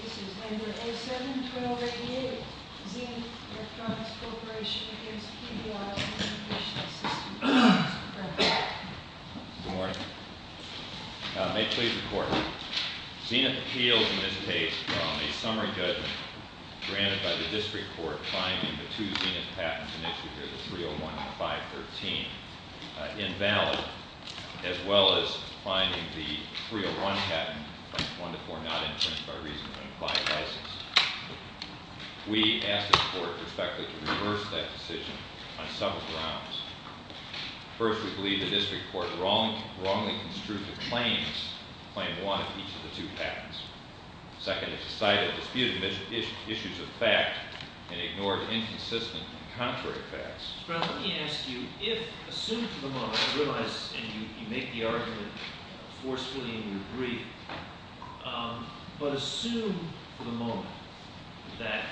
This case is under A7-1288, Zenith Electronics Corporation against Pediatrics and Infectious Diseases. Good morning. May I please report? Zenith appeals in this case on a summary judgment granted by the district court finding the two Zenith patents initially here, the 301 and the 513, invalid as well as finding the 301 patent, 1-4 not infringed by reason of an implied license. We asked the court respectfully to reverse that decision on several grounds. First, we believe the district court wrongly construed the claims claim one of each of the two patents. Second, it cited disputed issues of fact and ignored inconsistent and contrary facts. Mr. Brown, let me ask you, if assumed for the moment you realize and you make the argument forcefully and you agree, but assume for the moment that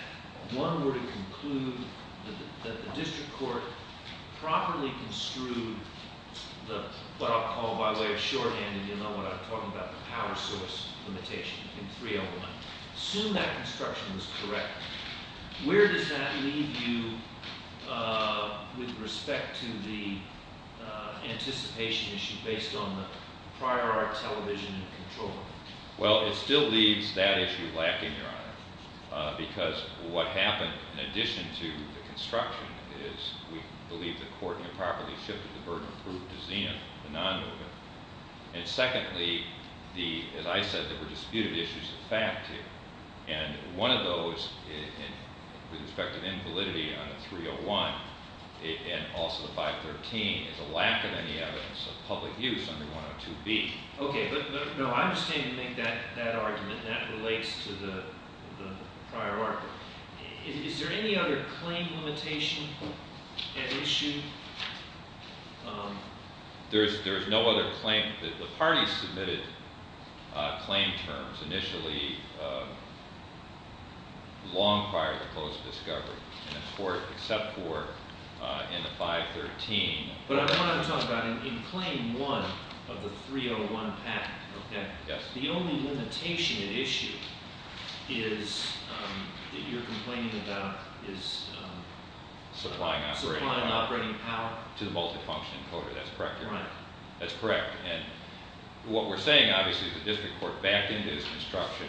one were to conclude that the district court properly construed what I'll call by way of shorthand and you'll know what I'm talking about, the power source limitation in 301. Assume that construction was correct. Where does that leave you with respect to the anticipation issue based on the prior art television and control? Well, it still leaves that issue lacking, Your Honor, because what happened in addition to the construction is we believe the court improperly shifted the burden of proof to Zina, the non-movement. And secondly, as I said, there were disputed issues of fact here. And one of those, with respect to the invalidity on 301 and also the 513, is a lack of any evidence of public use under 102B. Okay. No, I understand you make that argument and that relates to the prior argument. Your Honor, is there any other claim limitation at issue? There is no other claim. The parties submitted claim terms initially long prior to close of discovery in the court except for in the 513. But I want to talk about in claim one of the 301 patent. Yes. The only limitation at issue is that you're complaining about is supplying operating power to the multifunction encoder. That's correct, Your Honor? Right. That's correct. And what we're saying, obviously, is the district court backed into this construction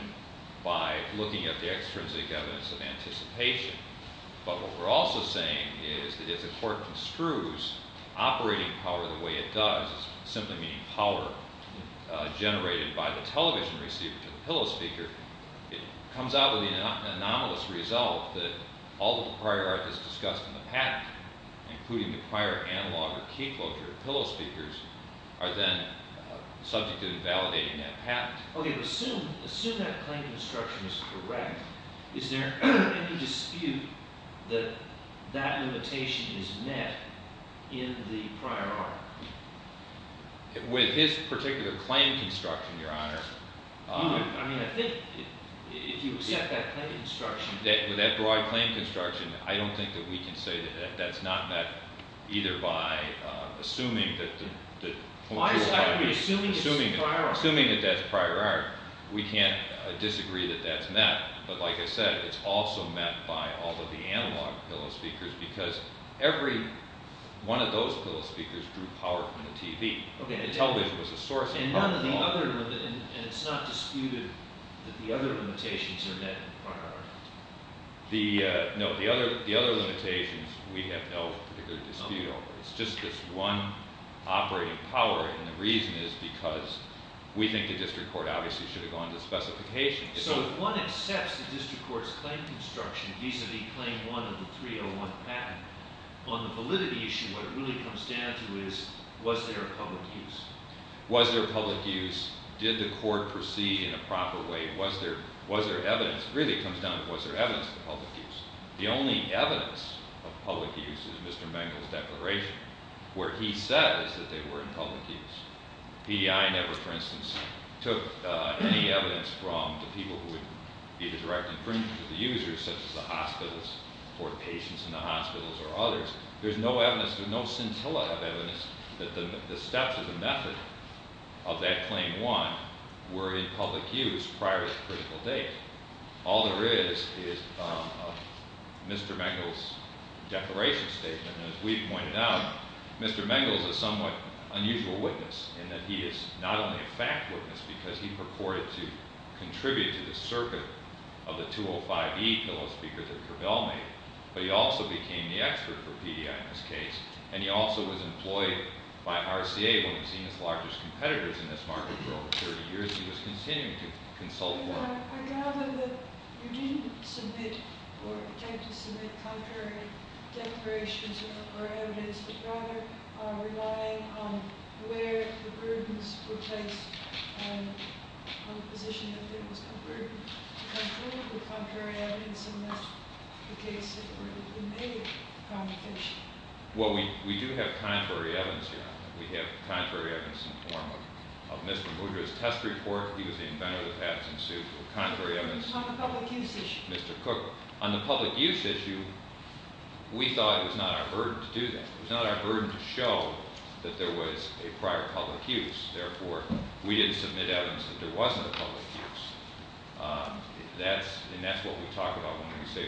by looking at the extrinsic evidence of anticipation. But what we're also saying is that if the court construes operating power the way it does, simply meaning power generated by the television receiver to the pillow speaker, it comes out with an anomalous result that all of the prior art that's discussed in the patent, including the prior analog or key closure of pillow speakers, are then subject to invalidating that patent. Okay. But assume that claim construction is correct, is there any dispute that that limitation is met in the prior art? With this particular claim construction, Your Honor. I mean, I think if you accept that claim construction. With that broad claim construction, I don't think that we can say that that's not met either by assuming that the point of view of operating power. I disagree. Assuming it's the prior art. We can't disagree that that's met. But like I said, it's also met by all of the analog pillow speakers because every one of those pillow speakers drew power from the TV. Television was a source of power. And it's not disputed that the other limitations are met in prior art? No, the other limitations we have no particular dispute over. It's just this one operating power, and the reason is because we think the district court obviously should have gone to specification. So if one accepts the district court's claim construction vis-a-vis claim one of the 301 patent, on the validity issue what it really comes down to is was there a public use? Was there public use? Did the court proceed in a proper way? Was there evidence? It really comes down to was there evidence of public use? The only evidence of public use is Mr. Mengel's declaration where he says that they were in public use. PEI never, for instance, took any evidence from the people who would be the direct infringement to the users, such as the hospitals or patients in the hospitals or others. There's no evidence, there's no scintilla of evidence that the steps or the method of that claim one were in public use prior to the critical date. All there is is Mr. Mengel's declaration statement. And as we've pointed out, Mr. Mengel is a somewhat unusual witness in that he is not only a fact witness because he purported to contribute to the circuit of the 205E bill of speakers that Cabell made, but he also became the expert for PEI in this case. And he also was employed by RCA when he seen his largest competitors in this market for over 30 years. He was continuing to consult with them. I gather that you didn't submit or attempt to submit contrary declarations or evidence, but rather relying on where the prudence were placed on the position that there was no prudence to contribute with contrary evidence, unless the case had already been made. Well, we do have contrary evidence here. We have contrary evidence in the form of Mr. Mudra's test report. He was the inventor of the patent suit. Contrary evidence? On the public use issue. Mr. Cook. On the public use issue, we thought it was not our burden to do that. It was not our burden to show that there was a prior public use. Therefore, we didn't submit evidence that there wasn't a public use. And that's what we talk about when we say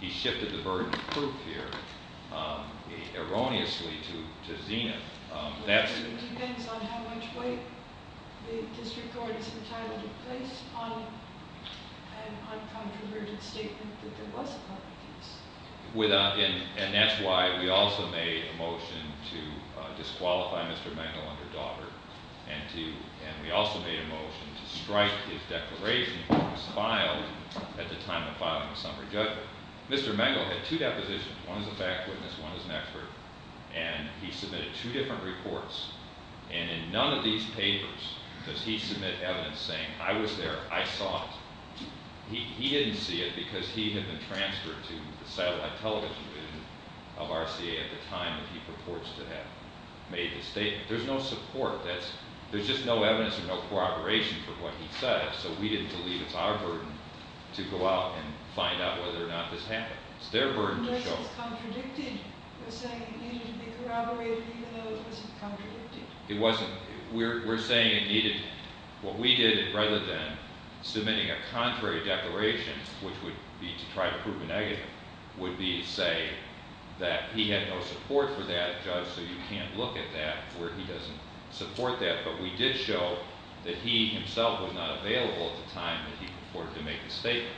he shifted the burden of proof here erroneously to Zenith. It depends on how much weight the district court has entitled to place on a controversial statement that there was a public use. And that's why we also made a motion to disqualify Mr. Mangle and her daughter, and we also made a motion to strike his declaration that was filed at the time of filing the summary judgment. Mr. Mangle had two depositions. One is a fact witness. One is an expert. And he submitted two different reports. And in none of these papers does he submit evidence saying, I was there, I saw it. He didn't see it because he had been transferred to the satellite television division of RCA at the time that he purports to have made the statement. There's no support. There's just no evidence or no corroboration for what he said, so we didn't believe it's our burden to go out and find out whether or not this happened. It's their burden to show. It wasn't. We're saying it needed what we did rather than submitting a contrary declaration, which would be to try to prove a negative, would be to say that he had no support for that, judge, so you can't look at that where he doesn't support that. But we did show that he himself was not available at the time that he purported to make the statement.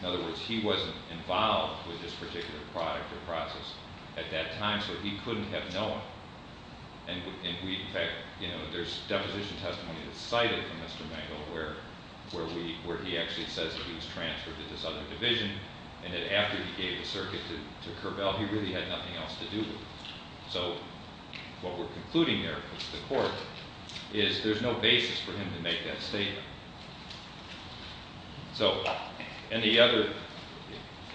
In other words, he wasn't involved with this particular product or process at that time, so he couldn't have known. And we, in fact, there's deposition testimony that's cited from Mr. Mangold where he actually says that he was transferred to this other division and that after he gave the circuit to Kerbel, he really had nothing else to do with it. So what we're concluding there with the court is there's no basis for him to make that statement. So in the other,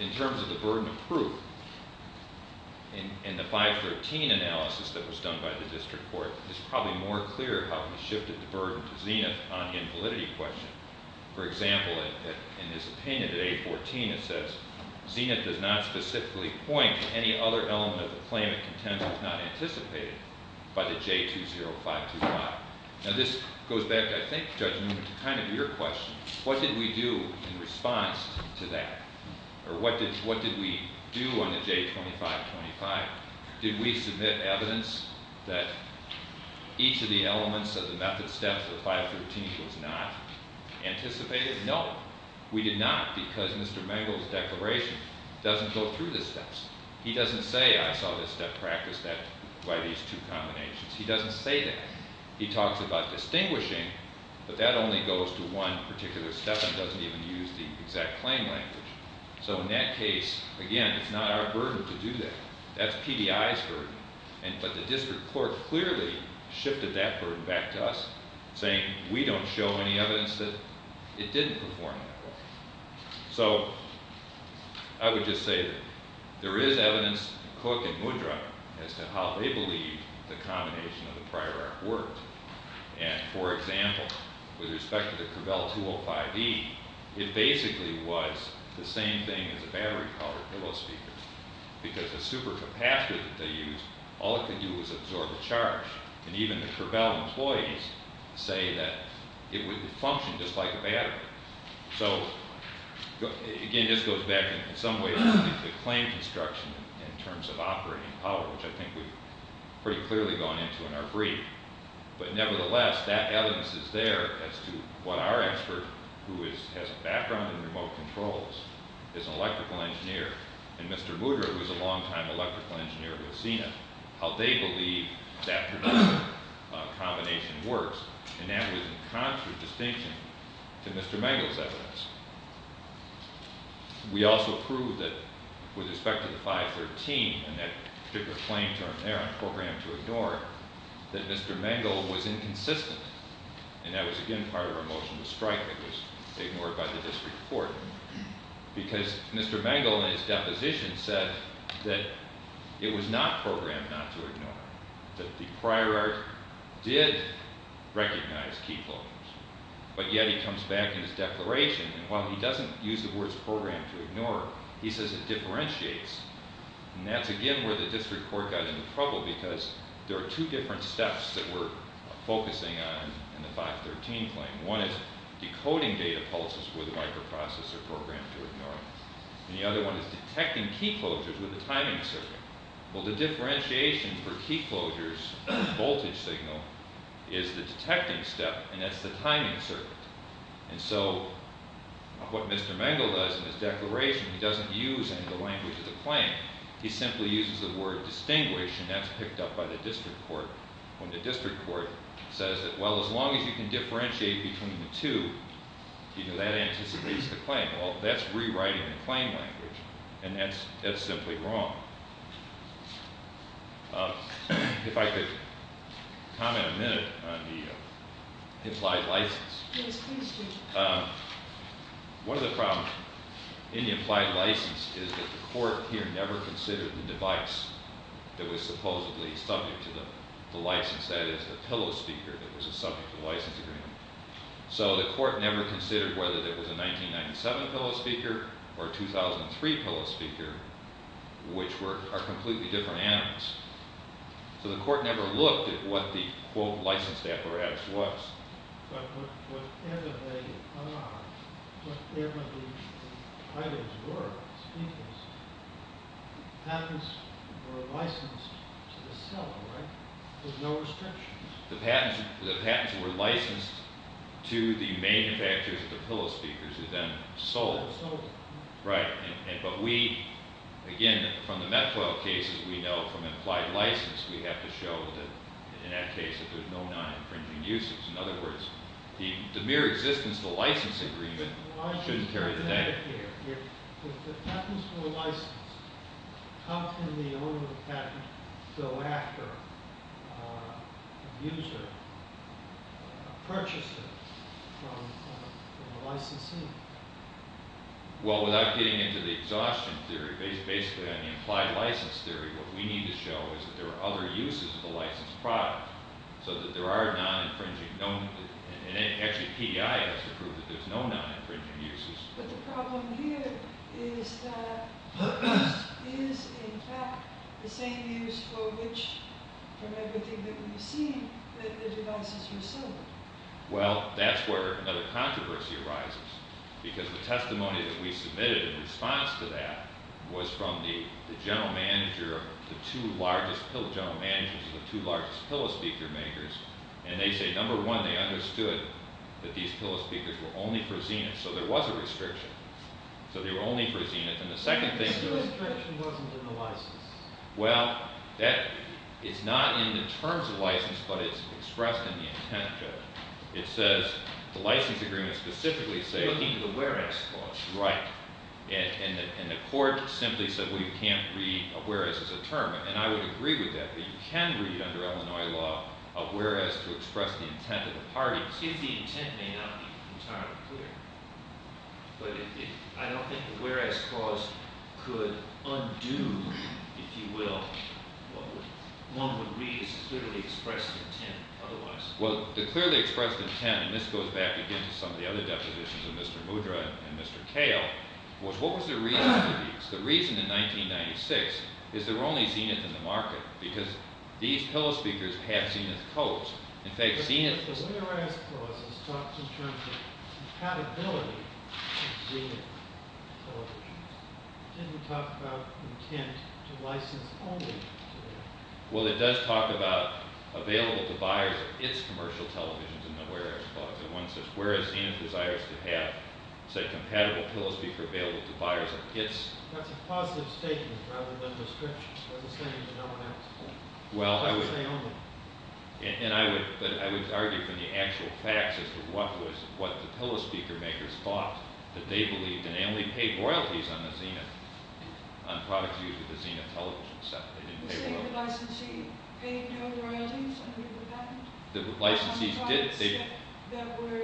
in terms of the burden of proof in the 513 analysis that was done by the district court, it's probably more clear how he shifted the burden to Zenith on the invalidity question. For example, in his opinion at 814, it says Zenith does not specifically point to any other element of the claimant content that's not anticipated by the J20525. Now this goes back, I think Judge Newman, to kind of your question. What did we do in response to that? Or what did, what did we do on the J2525? Did we submit evidence that each of the elements of the method steps of the 513 was not anticipated? No, we did not because Mr. Mangold's declaration doesn't go through the steps. He doesn't say, I saw this step practice that by these two combinations. He doesn't say that. He talks about distinguishing, but that only goes to one particular step and doesn't even use the exact claim language. So in that case, again, it's not our burden to do that. That's PDI's burden. And, but the district court clearly shifted that burden back to us saying we don't show any evidence that it didn't perform. So I would just say that there is evidence, Cook and Woodruff as to how they believe the combination of the prior work. And for example, with respect to the Covell 205E, it basically was the same thing as a battery powered pillow speaker because the super capacitor that they use, all it could do was absorb a charge. And even the Covell employees say that it would function just like a battery. So again, it just goes back in some ways to claim construction in terms of operating power, which I think we've pretty clearly gone into in our brief, but nevertheless, that evidence is there as to what our expert who is, has a background in remote controls is an electrical engineer. And Mr. Woodruff was a long time electrical engineer who has seen it, how they believe that combination works. And that was in concert distinction to Mr. Mangle's evidence. We also proved that with respect to the 513 and that particular claim term there on program to ignore that Mr. Mangle was inconsistent. And that was again, part of our motion to strike that was ignored by the district court because Mr. Mangle and his deposition said that it was not programmed not to ignore that the prior art did recognize people, but yet he comes back in his declaration. And while he doesn't use the words program to ignore, he says it differentiates. And that's again, where the district court got into trouble because there are two different steps that we're focusing on in the 513 claim. One is decoding data pulses with a microprocessor program to ignore. And the other one is detecting key closures with a timing circuit. Well, the differentiation for key closures voltage signal is the detecting step. And that's the timing circuit. And so what Mr. Mangle does in his declaration, he doesn't use any of the language of the claim. He simply uses the word distinguished and that's picked up by the district court. When the district court says that, well, as long as you can differentiate between the two, you know, that anticipates the claim. Well, that's rewriting the claim language. And that's, that's simply wrong. Um, if I could comment a minute on the, uh, his life license, um, what are the problems in the implied license is that the court here never considered the device that was supposedly subject to the license. That is the pillow speaker. That was a subject to the license agreement. So the court never considered whether there was a 1997 pillow speaker or 2003 pillow speaker, which were completely different animals. So the court never looked at what the quote licensed apparatus was. The patents, the patents were licensed to the manufacturers of the pillow speakers who then sold it. Right. And, but we, again, from the METCO cases, we know from implied license, we have to show that in that case, that there's no non-infringing uses. In other words, the, the mere existence, the license agreement shouldn't carry the name. The patents were licensed. How can the owner of the patent go after, the user, uh, purchases from, uh, from the licensee? Well, without getting into the exhaustion theory, based basically on the implied license theory, what we need to show is that there are other uses of the license product so that there are non-infringing known. And actually PDI has to prove that there's no non-infringing uses. But the problem here is that, is in fact the same use for which, from everything that we've seen, that the devices were sold. Well, that's where another controversy arises. Because the testimony that we submitted in response to that was from the, the general manager of the two largest pillow, general managers of the two largest pillow speaker makers. And they say, number one, they understood that these pillow speakers were only for Zenith. So there was a restriction. So they were only for Zenith. And the second thing. The restriction wasn't in the license. Well, that is not in the terms of license, but it's expressed in the intent. It says the license agreement specifically say. Looking at the whereas clause. Right. And, and the court simply said, we can't read a whereas as a term. And I would agree with that, but you can read under Illinois law, a whereas to express the intent of the party. The intent may not be entirely clear, but I don't think the whereas clause could undo, if you will, one would read as clearly expressed intent. Otherwise, well, the clearly expressed intent, and this goes back again to some of the other depositions of Mr. Mudra and Mr. Kale was, what was the reason? The reason in 1996 is there were only Zenith in the market because these pillow speakers have Zenith codes. In fact, Zenith. Well, it does talk about available to buyers. It's commercial televisions in the whereas clause. And one says, buyers. That's a positive statement rather than description. Well, I would say only. And I would, but I would argue from the actual facts as to what was, what the pillow speaker makers thought that they believed in. They only paid royalties on the Zenith, on product views of the Zenith television set. They didn't pay royalties. You're saying the licensee paid no royalties under the patent? The licensee did. On products that were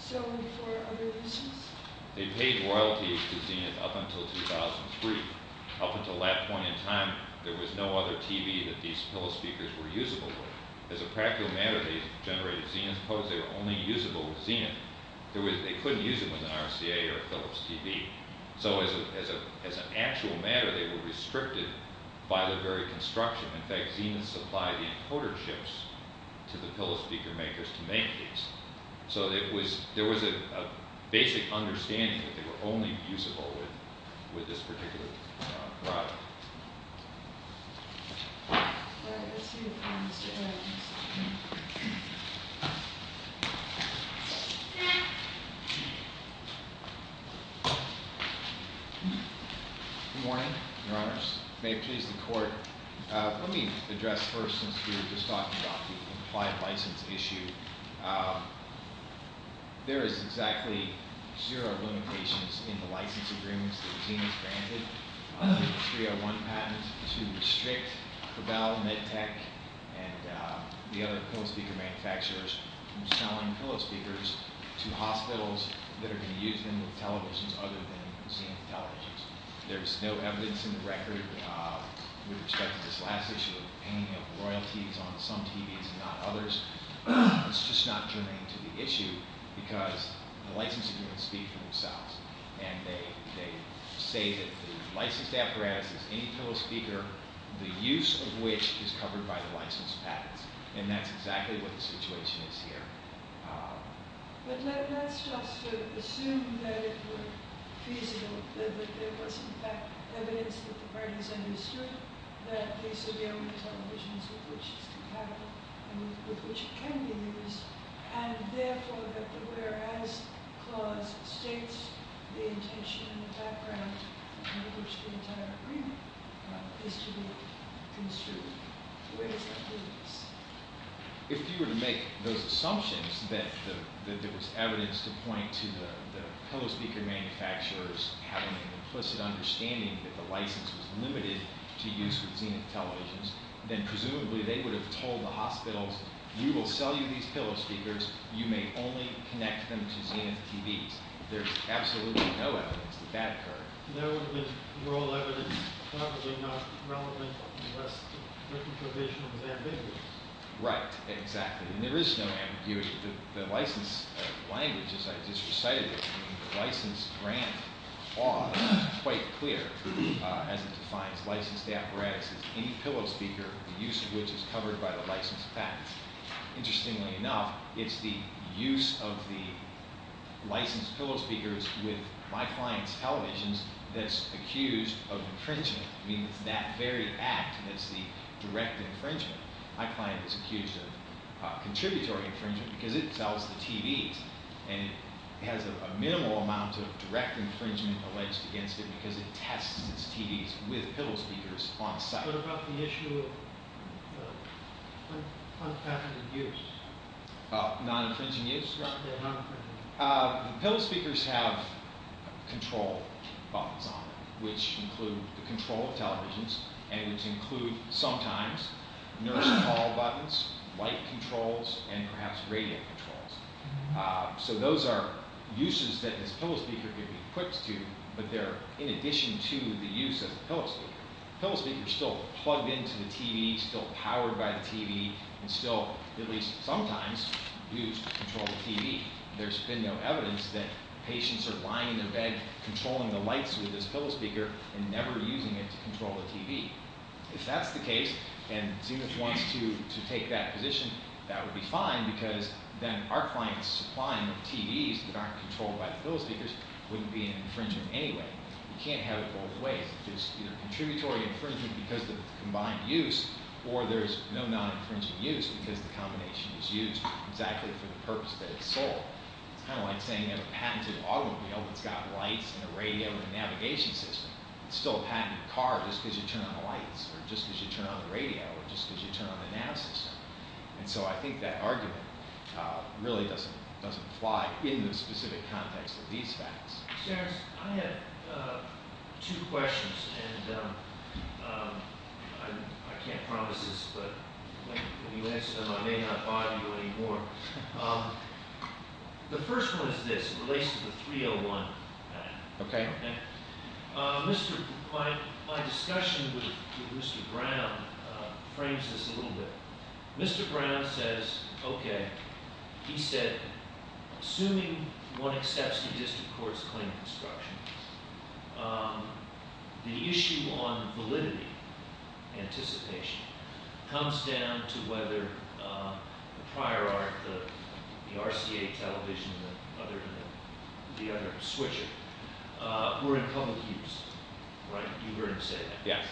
sold for other reasons? They paid royalties to Zenith up until 2003. Up until that point in time, there was no other TV that these pillow speakers were usable with. As a practical matter, they generated Zenith codes. They were only usable with Zenith. There was, they couldn't use it with an RCA or a Philips TV. So as a, as a, as an actual matter, they were restricted by the very construction. In fact, Zenith supplied the encoder chips to the pillow speaker makers to make these. So it was, there was a, a basic understanding that they were only usable with, with this particular product. Good morning, your honors. May it please the court. Let me address first, since we were just talking about the implied license issue. Um, there is exactly zero limitations in the license agreements that Zenith granted. Uh, 301 patents to restrict the valve med tech and, uh, the other pillow speaker manufacturers from selling pillow speakers to hospitals that are going to use them with televisions other than Zenith televisions. There's no evidence in the record, uh, with respect to this last issue of paying up royalties on some TVs and not others. It's just not germane to the issue because the license agreements speak for themselves. And they, they say that the licensed apparatus is any pillow speaker, the use of which is covered by the license patents. And that's exactly what the situation is here. Um, but let, let's just assume that it were feasible, that there was in fact evidence that the parties understood that they should be on televisions with which it's compatible and with which it can be used. And therefore that the, whereas clause states the intention and the background in which the entire agreement is to be construed. Where does that leave us? If you were to make those assumptions that the, that there was evidence to point to the pillow speaker manufacturers having an implicit understanding that the license was limited to use with Zenith televisions, then presumably they would have told the hospitals, we will sell you these pillow speakers. You may only connect them to Zenith TVs. There's absolutely no evidence that that occurred. No, we're all evidence probably not relevant. Right. Exactly. And there is no ambiguity. The, the license languages I just recited, the license grant are quite clear, uh, licensed apparatus, any pillow speaker, the use of which is covered by the license patents. Interestingly enough, it's the use of the license pillow speakers with my clients televisions. That's accused of infringement. I mean, it's that very act. That's the direct infringement. My client is accused of a contributory infringement because it sells the TVs and has a minimal amount of direct infringement alleged against it because it tests it's TVs with pillow speakers on site. What about the issue of non-infringing use? Non-infringing use? Non-infringing. Uh, pillow speakers have control buttons on them, which include the control of televisions and which include sometimes nurse call buttons, white controls, and perhaps radio controls. Uh, so those are uses that this pillow speaker could be equipped to, but they're in addition to the use of the pillow speaker. Pillow speakers are still plugged into the TV, still powered by the TV, and still, at least sometimes, used to control the TV. There's been no evidence that patients are lying in their bed controlling the lights with this pillow speaker and never using it to control the TV. If that's the case, and Zenith wants to, to take that position, that would be fine because then our clients supplying the TVs that aren't in infringement anyway. You can't have it both ways. It's either contributory infringement because of the combined use, or there's no non-infringing use because the combination is used exactly for the purpose that it's sold. It's kind of like saying you have a patented automobile that's got lights and a radio and a navigation system. It's still a patented car just because you turn on the lights or just because you turn on the radio or just because you turn on the nav system. And so I think that argument, uh, really doesn't, doesn't apply in the specific context of these facts. I have, uh, two questions. And, um, um, I can't promise this, but when you answer them, I may not bother you anymore. Um, the first one is this, it relates to the 301. Okay. Uh, Mr, my, my discussion with Mr. Brown, uh, frames this a little bit. Mr. Brown says, okay. He said, assuming one accepts the district court's claim construction, um, the issue on validity anticipation comes down to whether, um, the prior art, the, the RCA television, the other, the other switcher, uh, were in public use. Right. You've heard him say that. Yes.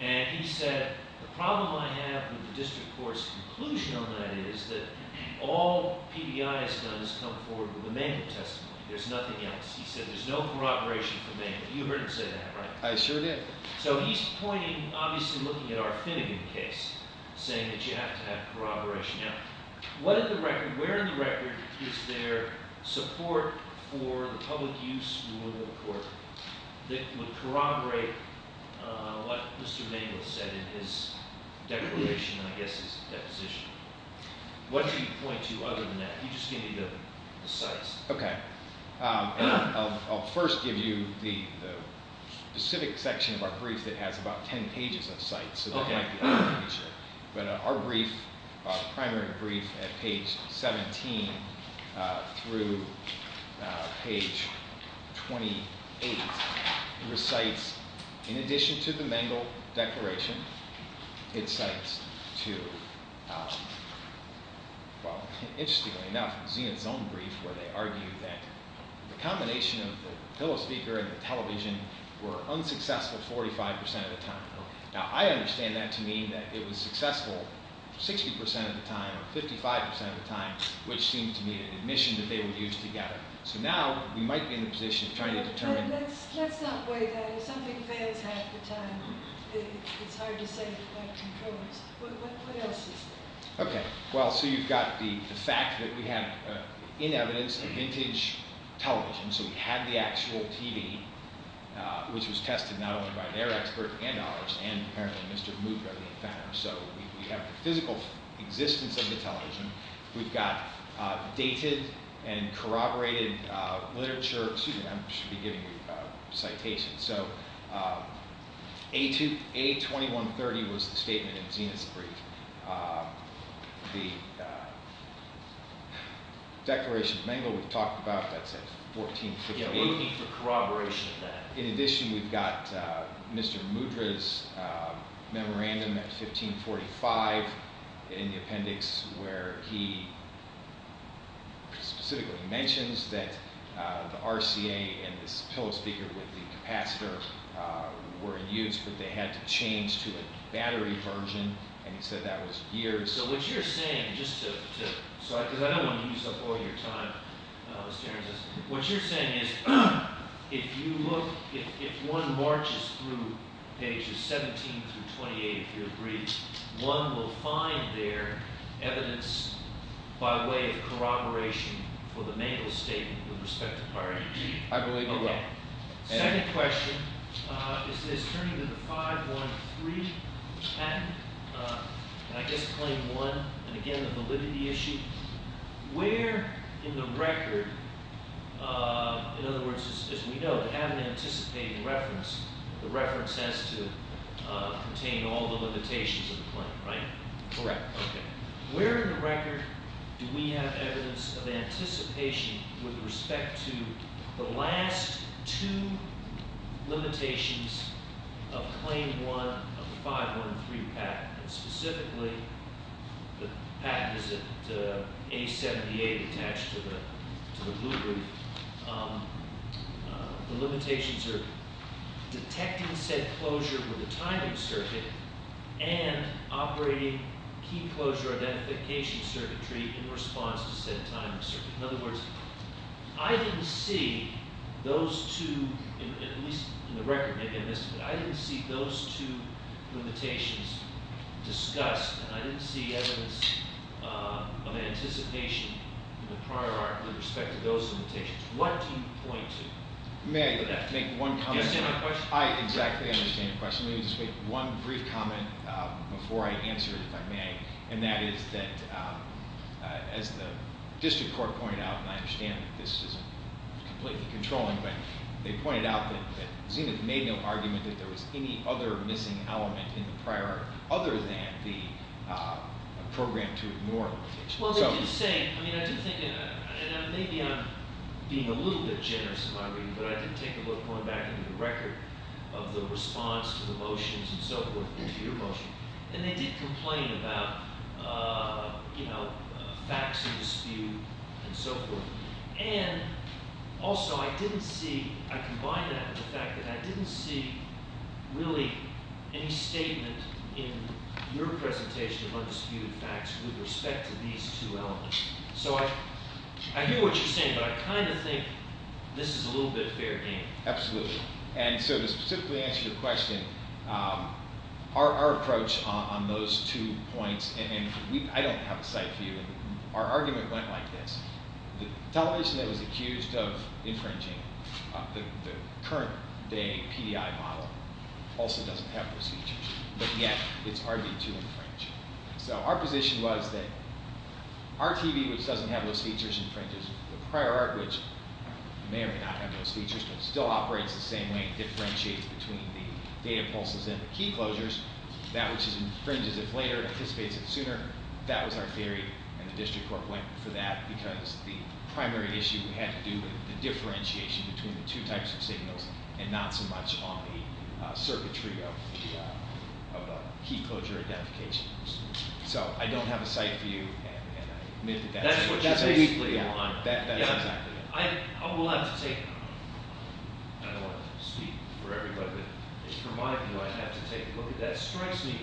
And he said, the problem I have with the district court's conclusion on that is that all PBI has done is come forward with a manual testimony. There's nothing else. He said, there's no corroboration for me. You've heard him say that, right? I sure did. So he's pointing, obviously looking at our Finnegan case, saying that you have to have corroboration. Now, what did the record where in the record is there support for the public use rule of the court that would corroborate, uh, what Mr. Mabel said in his declaration, I guess, is deposition. What did he point to other than that? He just gave me the, the sites. Um, and I'll, I'll first give you the, the specific section of our brief that has about 10 pages of sites. Okay. But our brief, uh, primary brief at page 17, uh, through, uh, page 28, recites in addition to the Mabel declaration, it says to, uh, well, interestingly enough, it's in its own brief where they argue that the combination of the pillow speaker and the television were unsuccessful 45% of the time. Now I understand that to mean that it was successful 60% of the time, 55% of the time, which seems to me an admission that they would use together. So now we might be in a position of trying to determine. Let's, let's not wait. Yeah. If something fails half the time, it's hard to say what controls. What, what else is there? Okay. Well, so you've got the, the fact that we have, uh, in evidence, a vintage television. So we had the actual TV, uh, which was tested not only by their expert and ours, and apparently Mr. Mooca, the inventor. So we, we have the physical existence of the television. We've got, uh, dated and corroborated, uh, literature, excuse me, I'm, I'm not a historian, but I'm a historian. So, um, a two, a 2130 was the statement of Zenith's brief. Um, the, declaration of Bengal we've talked about. That's at 1458. Yeah, we're looking for corroboration of that. In addition, we've got, uh, Mr. Mudra's, uh, memorandum at 1545 in the appendix where he specifically mentions that, uh, the RCA and this pillow speaker with the capacitor, uh, were in use, but they had to change to a battery version, and he said that was years. So what you're saying, just to, to, so I, because I don't want to use up all your time, uh, Mr. Aaron says, what you're saying is, if you look, if, if one marches through pages 17 through 28, if you agree, one will find there evidence by way of corroboration for the Bengal statement with respect to prior I believe. Okay. Second question, uh, is this turning to the 513 and, uh, I guess, claim one and again, the validity issue where in the record, uh, in other words, as we know, they haven't anticipated reference. The reference has to, uh, contain all the limitations of the claim, right? Correct. Okay. Where in the record do we have evidence of anticipation with respect to, the last two limitations of claim one of the 513 patent? And specifically, the patent is at, uh, A78 attached to the, to the blue roof. Um, uh, the limitations are detecting said closure with a timing circuit and operating key closure identification circuitry in response to said timing circuit. In other words, I didn't see those two, at least in the record, I didn't see those two limitations discussed and I didn't see evidence, uh, of anticipation in the prior article with respect to those limitations. What do you point to? May I make one comment? Do you understand my question? I exactly understand your question. Let me just make one brief comment, uh, before I answer if I may. And that is that, um, uh, as the district court pointed out, and I understand that this isn't completely controlling, but they pointed out that, that Zenith made no argument that there was any other missing element in the prior, other than the, uh, program to ignore. Well, they did say, I mean, I do think, and maybe I'm being a little bit generous in my reading, but I did take a look going back into the record of the response to the motions and so forth, to your motion. And they did complain about, uh, you know, facts of dispute and so forth. And also, I didn't see, I combine that with the fact that I didn't see really any statement in your presentation of undisputed facts with respect to these two elements. So I, I hear what you're saying, but I kind of think this is a little bit of fair game. Absolutely. And so to specifically answer your question, um, our, our approach on, on those two points, and we, I don't have a site for you, and our argument went like this. The television that was accused of infringing, uh, the, the current day PDI model also doesn't have those features. But yet, it's hard to infringe. So our position was that RTV, which doesn't have those features, infringes with the prior art, which may or may not have those features, but still operates the same way. It differentiates between the data pulses and the key closures. That which infringes it later, anticipates it sooner. That was our theory, and the district court went for that, because the primary issue had to do with the differentiation between the two types of signals, and not so much on the, uh, circuitry of the, uh, of the key closure identification. So I don't have a site for you, and I admit that that's- That's what you basically want. Yeah, that, that's exactly it. I, I will have to take, I don't want to speak for everybody, but it's for my view, I have to take a look at that. It strikes me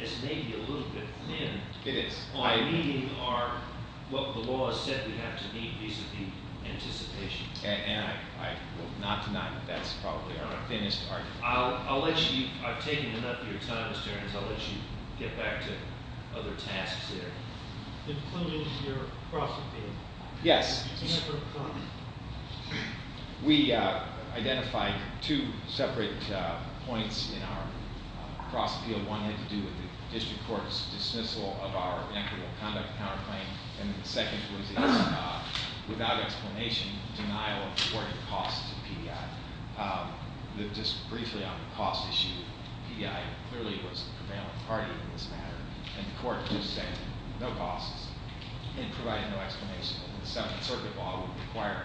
as maybe a little bit thin. It is. By meeting our, what the law has said we have to meet, vis-a-vis anticipation. And, and I, I will not deny that that's probably our thinnest argument. I'll, I'll let you, I've taken enough of your time, Mr. Ernst, I'll let you get back to other tasks there. Including your crossing field. Yes. We, uh, identified two separate, uh, points in our, uh, cross field. One had to do with the district court's dismissal of our inequitable conduct counterclaim. And the second was a, uh, without explanation, denial of reporting costs to PDI. Um, the, just briefly on the cost issue, PDI clearly was the prevailing party in this matter. And the court just said, no costs, and provided no explanation. And the Seventh Circuit law would require,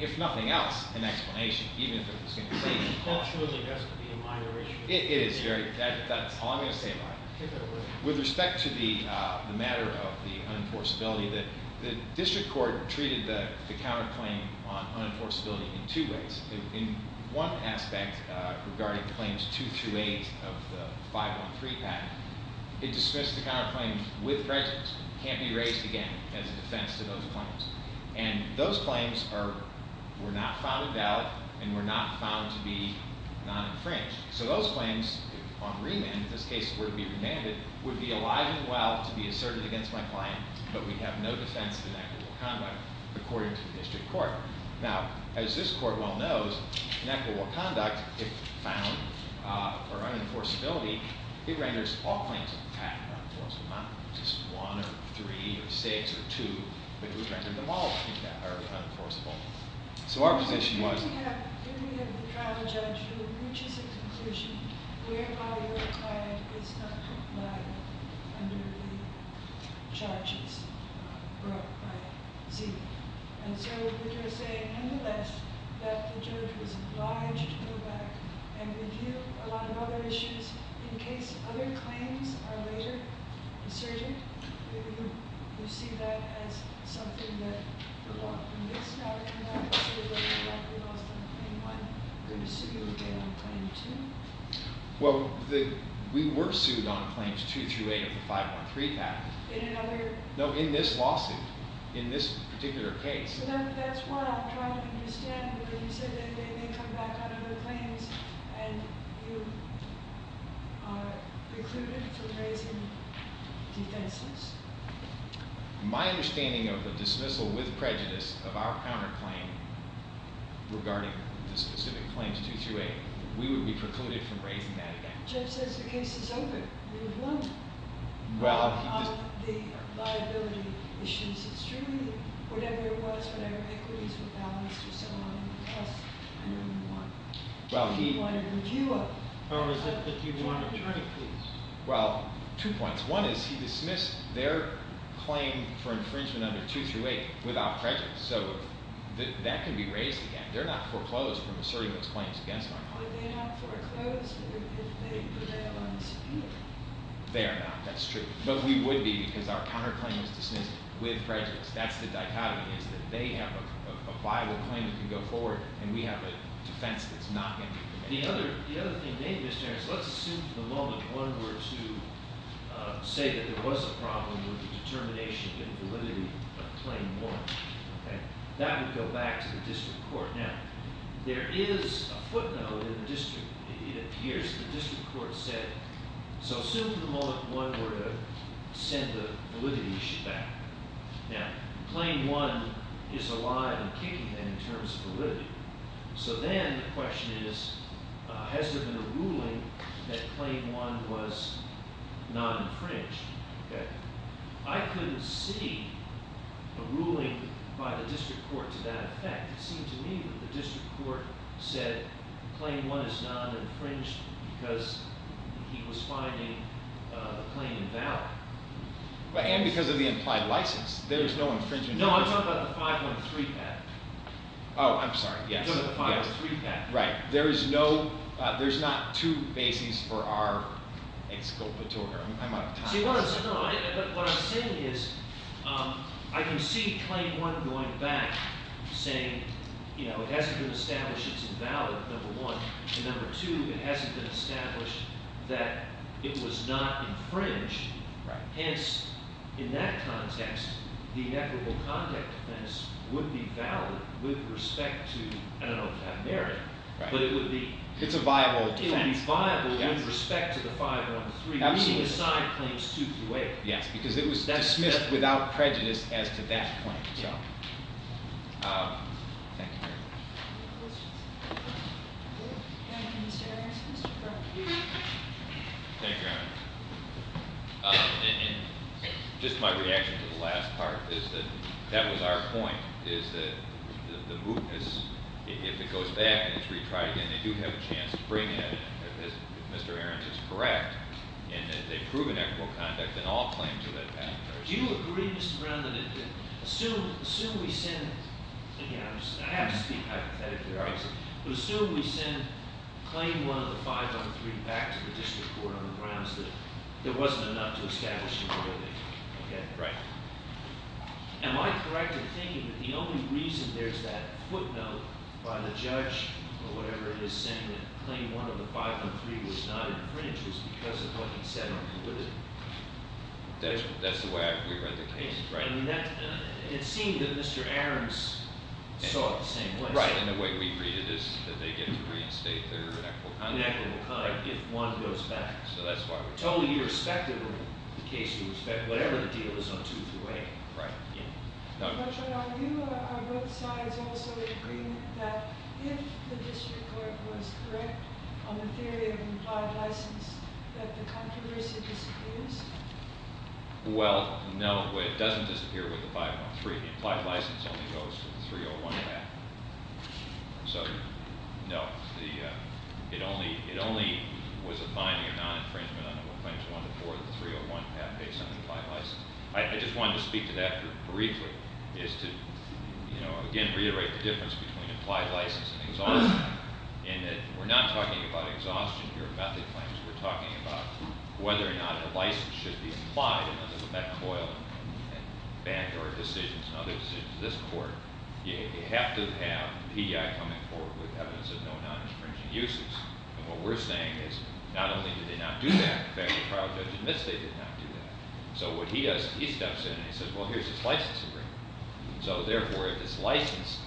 if nothing else, an explanation. Even if it was going to say that. The cost really has to be a minor issue. It, it is very, that, that's all I'm going to say about it. With respect to the, uh, the matter of the unenforceability, the, the district court treated the, the counterclaim on unenforceability in two ways. In, in one aspect, uh, regarding claims two through eight of the 513 patent, it dismissed the counterclaim with prejudice. It can't be raised again as a defense to those claims. And those claims are, were not found in doubt, and were not found to be non-infringed. So those claims, on remand, in this case, were to be remanded, would be alive and well to be asserted against my client, but we have no defense of inequitable conduct, according to the district court. Now, as this court well knows, inequitable conduct, if found, uh, or unenforceability, it renders all claims of the patent unenforceable. Not just one, or three, or six, or two, but it would render them all unenforceable. So our position was... We have, we have a trial judge who reaches a conclusion whereby your client is not liable under the charges, uh, brought by Zika. And so, we're going to say, nonetheless, that the judge was obliged to go back and review a lot of other issues in case other claims are later asserted. Do you, do you see that as something that the law can get started on, so that they're not going to be lost on claim one? They're going to sue you again on claim two? Well, the, we were sued on claims two through eight of the 513 patent. In another... No, in this lawsuit. In this particular case. That's what I'm trying to understand. You said that they may come back on other claims, and you, uh, My understanding of the dismissal with prejudice of our counterclaim regarding the specific claims two through eight, we would be precluded from raising that again. The judge says the case is open. We have won. Well, the liability issues, it's truly, whatever it was, whatever equities were balanced or so on, the cost, I know you want... Well, you want a review of... Oh, well, two points. One is he dismissed their claim for infringement under two through eight without prejudice. So that can be raised again. They're not foreclosed from asserting those claims against my client. They are not. That's true. But we would be because our counterclaim is dismissed with prejudice. That's the dichotomy is that they have a viable claim that can go forward, and we have a defense that's not going to be. The other thing maybe, Mr. Harris, let's assume for the moment one were to say that there was a problem with the determination and validity of claim one. Okay? That would go back to the district court. Now, there is a footnote in the district. It appears the district court said... So assume for the moment one were to send the validity issue back. Now, claim one is alive and kicking then in terms of validity. So then the question is, has there been a ruling that claim one was not infringed? Okay? I couldn't see a ruling by the district court to that effect. It seemed to me that the district court said claim one is not infringed because he was finding the claim invalid. And because of the implied license. There is no infringement. No, I'm talking about the 5.3 pattern. Oh, I'm sorry. The 5.3 pattern. Right. There is no, there's not two bases for our exculpatory. I'm out of time. See, what I'm saying is, I can see claim one going back saying, you know, it hasn't been established it's invalid, number one. And number two, it hasn't been established that it was not infringed. Right. Hence, in that context, the equitable context would be valid with respect to, I don't know, have merit, but it would be, it's a viable defense. It would be viable with respect to the 5.3. Absolutely. The side claims 2-8. Yes, because it was dismissed without prejudice as to that point. So, thank you very much. Any questions? Any questions? Any questions? Thank you. Thank you, Your Honor. And just my reaction to the last part is that, that was our point, is that the mootness, if it goes back and it's retried again, they do have a chance to bring it in, if Mr. Ahrens is correct, and that they prove an equitable conduct in all claims of that patent. Do you agree, Mr. that it, assume, assume we send, again, I have to speak hypothetically, obviously, but assume we send claim 1 of the 5.3 back to the district court on the grounds that there wasn't enough to establish the mootness. Okay? Right. Am I correct in thinking that the only reason there's that footnote by the judge or whatever it is saying that claim 1 of the 5.3 was not infringed was because of what he said on the mootness? That's the way we read the case, right? I mean, it seemed that Mr. Ahrens saw it the same way. Right. And the way we read it is that they get to reinstate their equitable conduct. Equitable conduct, if 1 goes back. So that's why we're totally irrespective of the case, we respect whatever the deal is on 2 through 8. Right. Yeah. Judge, are you, are both sides also agreeing that if the district court was correct on the theory of implied license, that the controversy disappears? Well, no, it doesn't disappear with the 5.3. The implied license only goes to the 301 path. So, no, the, it only, it only was a binding or non-infringement on claims 1 to 4 of the 301 path based on the implied license. I just wanted to speak to that briefly, is to, you know, again, reiterate the difference between implied license and exhaustion in that we're not talking about exhaustion here, method claims. We're talking about whether or not a license should be applied under the Beck Coil and other decisions of this court. You have to have PEI coming forward with evidence of no non-infringing uses. And what we're saying is not only did they not do that, in fact, the trial judge admits they did not do that. So, what he does, he steps in and he says, well, here's this license agreement. So, therefore, if this license,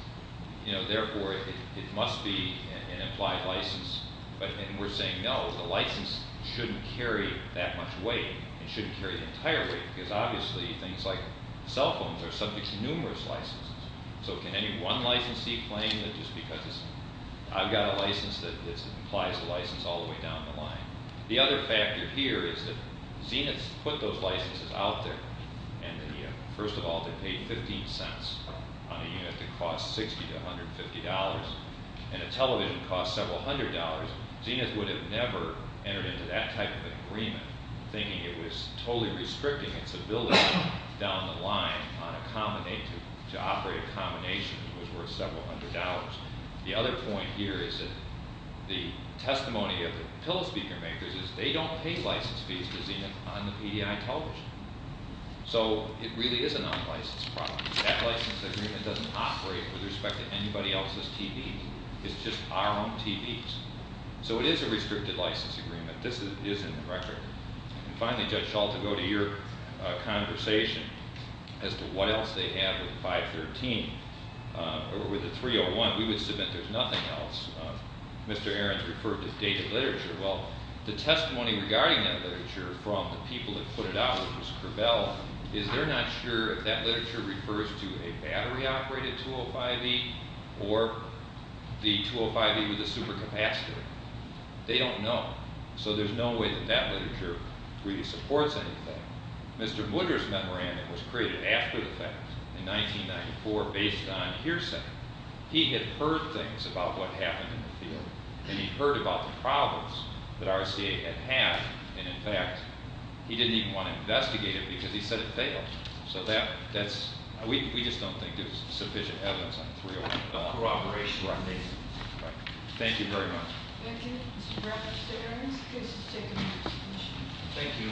you know, therefore, it must be an implied license. But, and we're saying no, the license shouldn't carry that much weight. It shouldn't carry the entire weight. Because, obviously, things like cell phones are subject to numerous licenses. So, can any one licensee claim that just because it's, I've got a license that implies a license all the way down the line? The other factor here is that Zenith put those licenses out there, and the, first of all, they paid 15 cents on a unit that costs 60 to $150, and a television costs several hundred dollars. Zenith would have never entered into that type of agreement, thinking it was totally restricting its ability down the line on a combination, to operate a combination that was worth several hundred dollars. The other point here is that the testimony of the pillow speaker makers is they don't pay license fees to Zenith on the PDI television. So, it really is a non-license problem. That license agreement doesn't operate with respect to anybody else's TV. It's just our own TVs. So, it is a restricted license agreement. This is in the record. And finally, Judge Schultz, I'll go to your conversation as to what else they have with 513, or with the 301. We would submit there's nothing else. Mr. Arons referred to dated literature. Well, the testimony regarding that literature from the people that put it out, which was Crabel, is they're not sure if that literature refers to a battery-operated 205E or the 205E with a supercapacitor. They don't know. So, there's no way that that literature really supports anything. Mr. Woodruff's memorandum was created after the fact, in 1994, based on hearsay. He had heard things about what happened in the field, and he'd heard about the problems that RCA had had. And, in fact, he didn't even want to investigate it because he said it failed. So, that's, we just don't think there's sufficient evidence on 301. Cooperation. Right. Thank you very much. Thank you. Mr. Bradford, Mr. Arons, the case is taken. Thank you.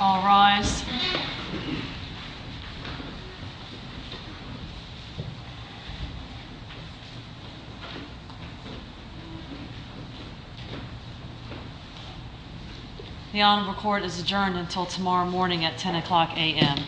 All rise. The Honorable Court is adjourned until tomorrow morning at 10 o'clock a.m.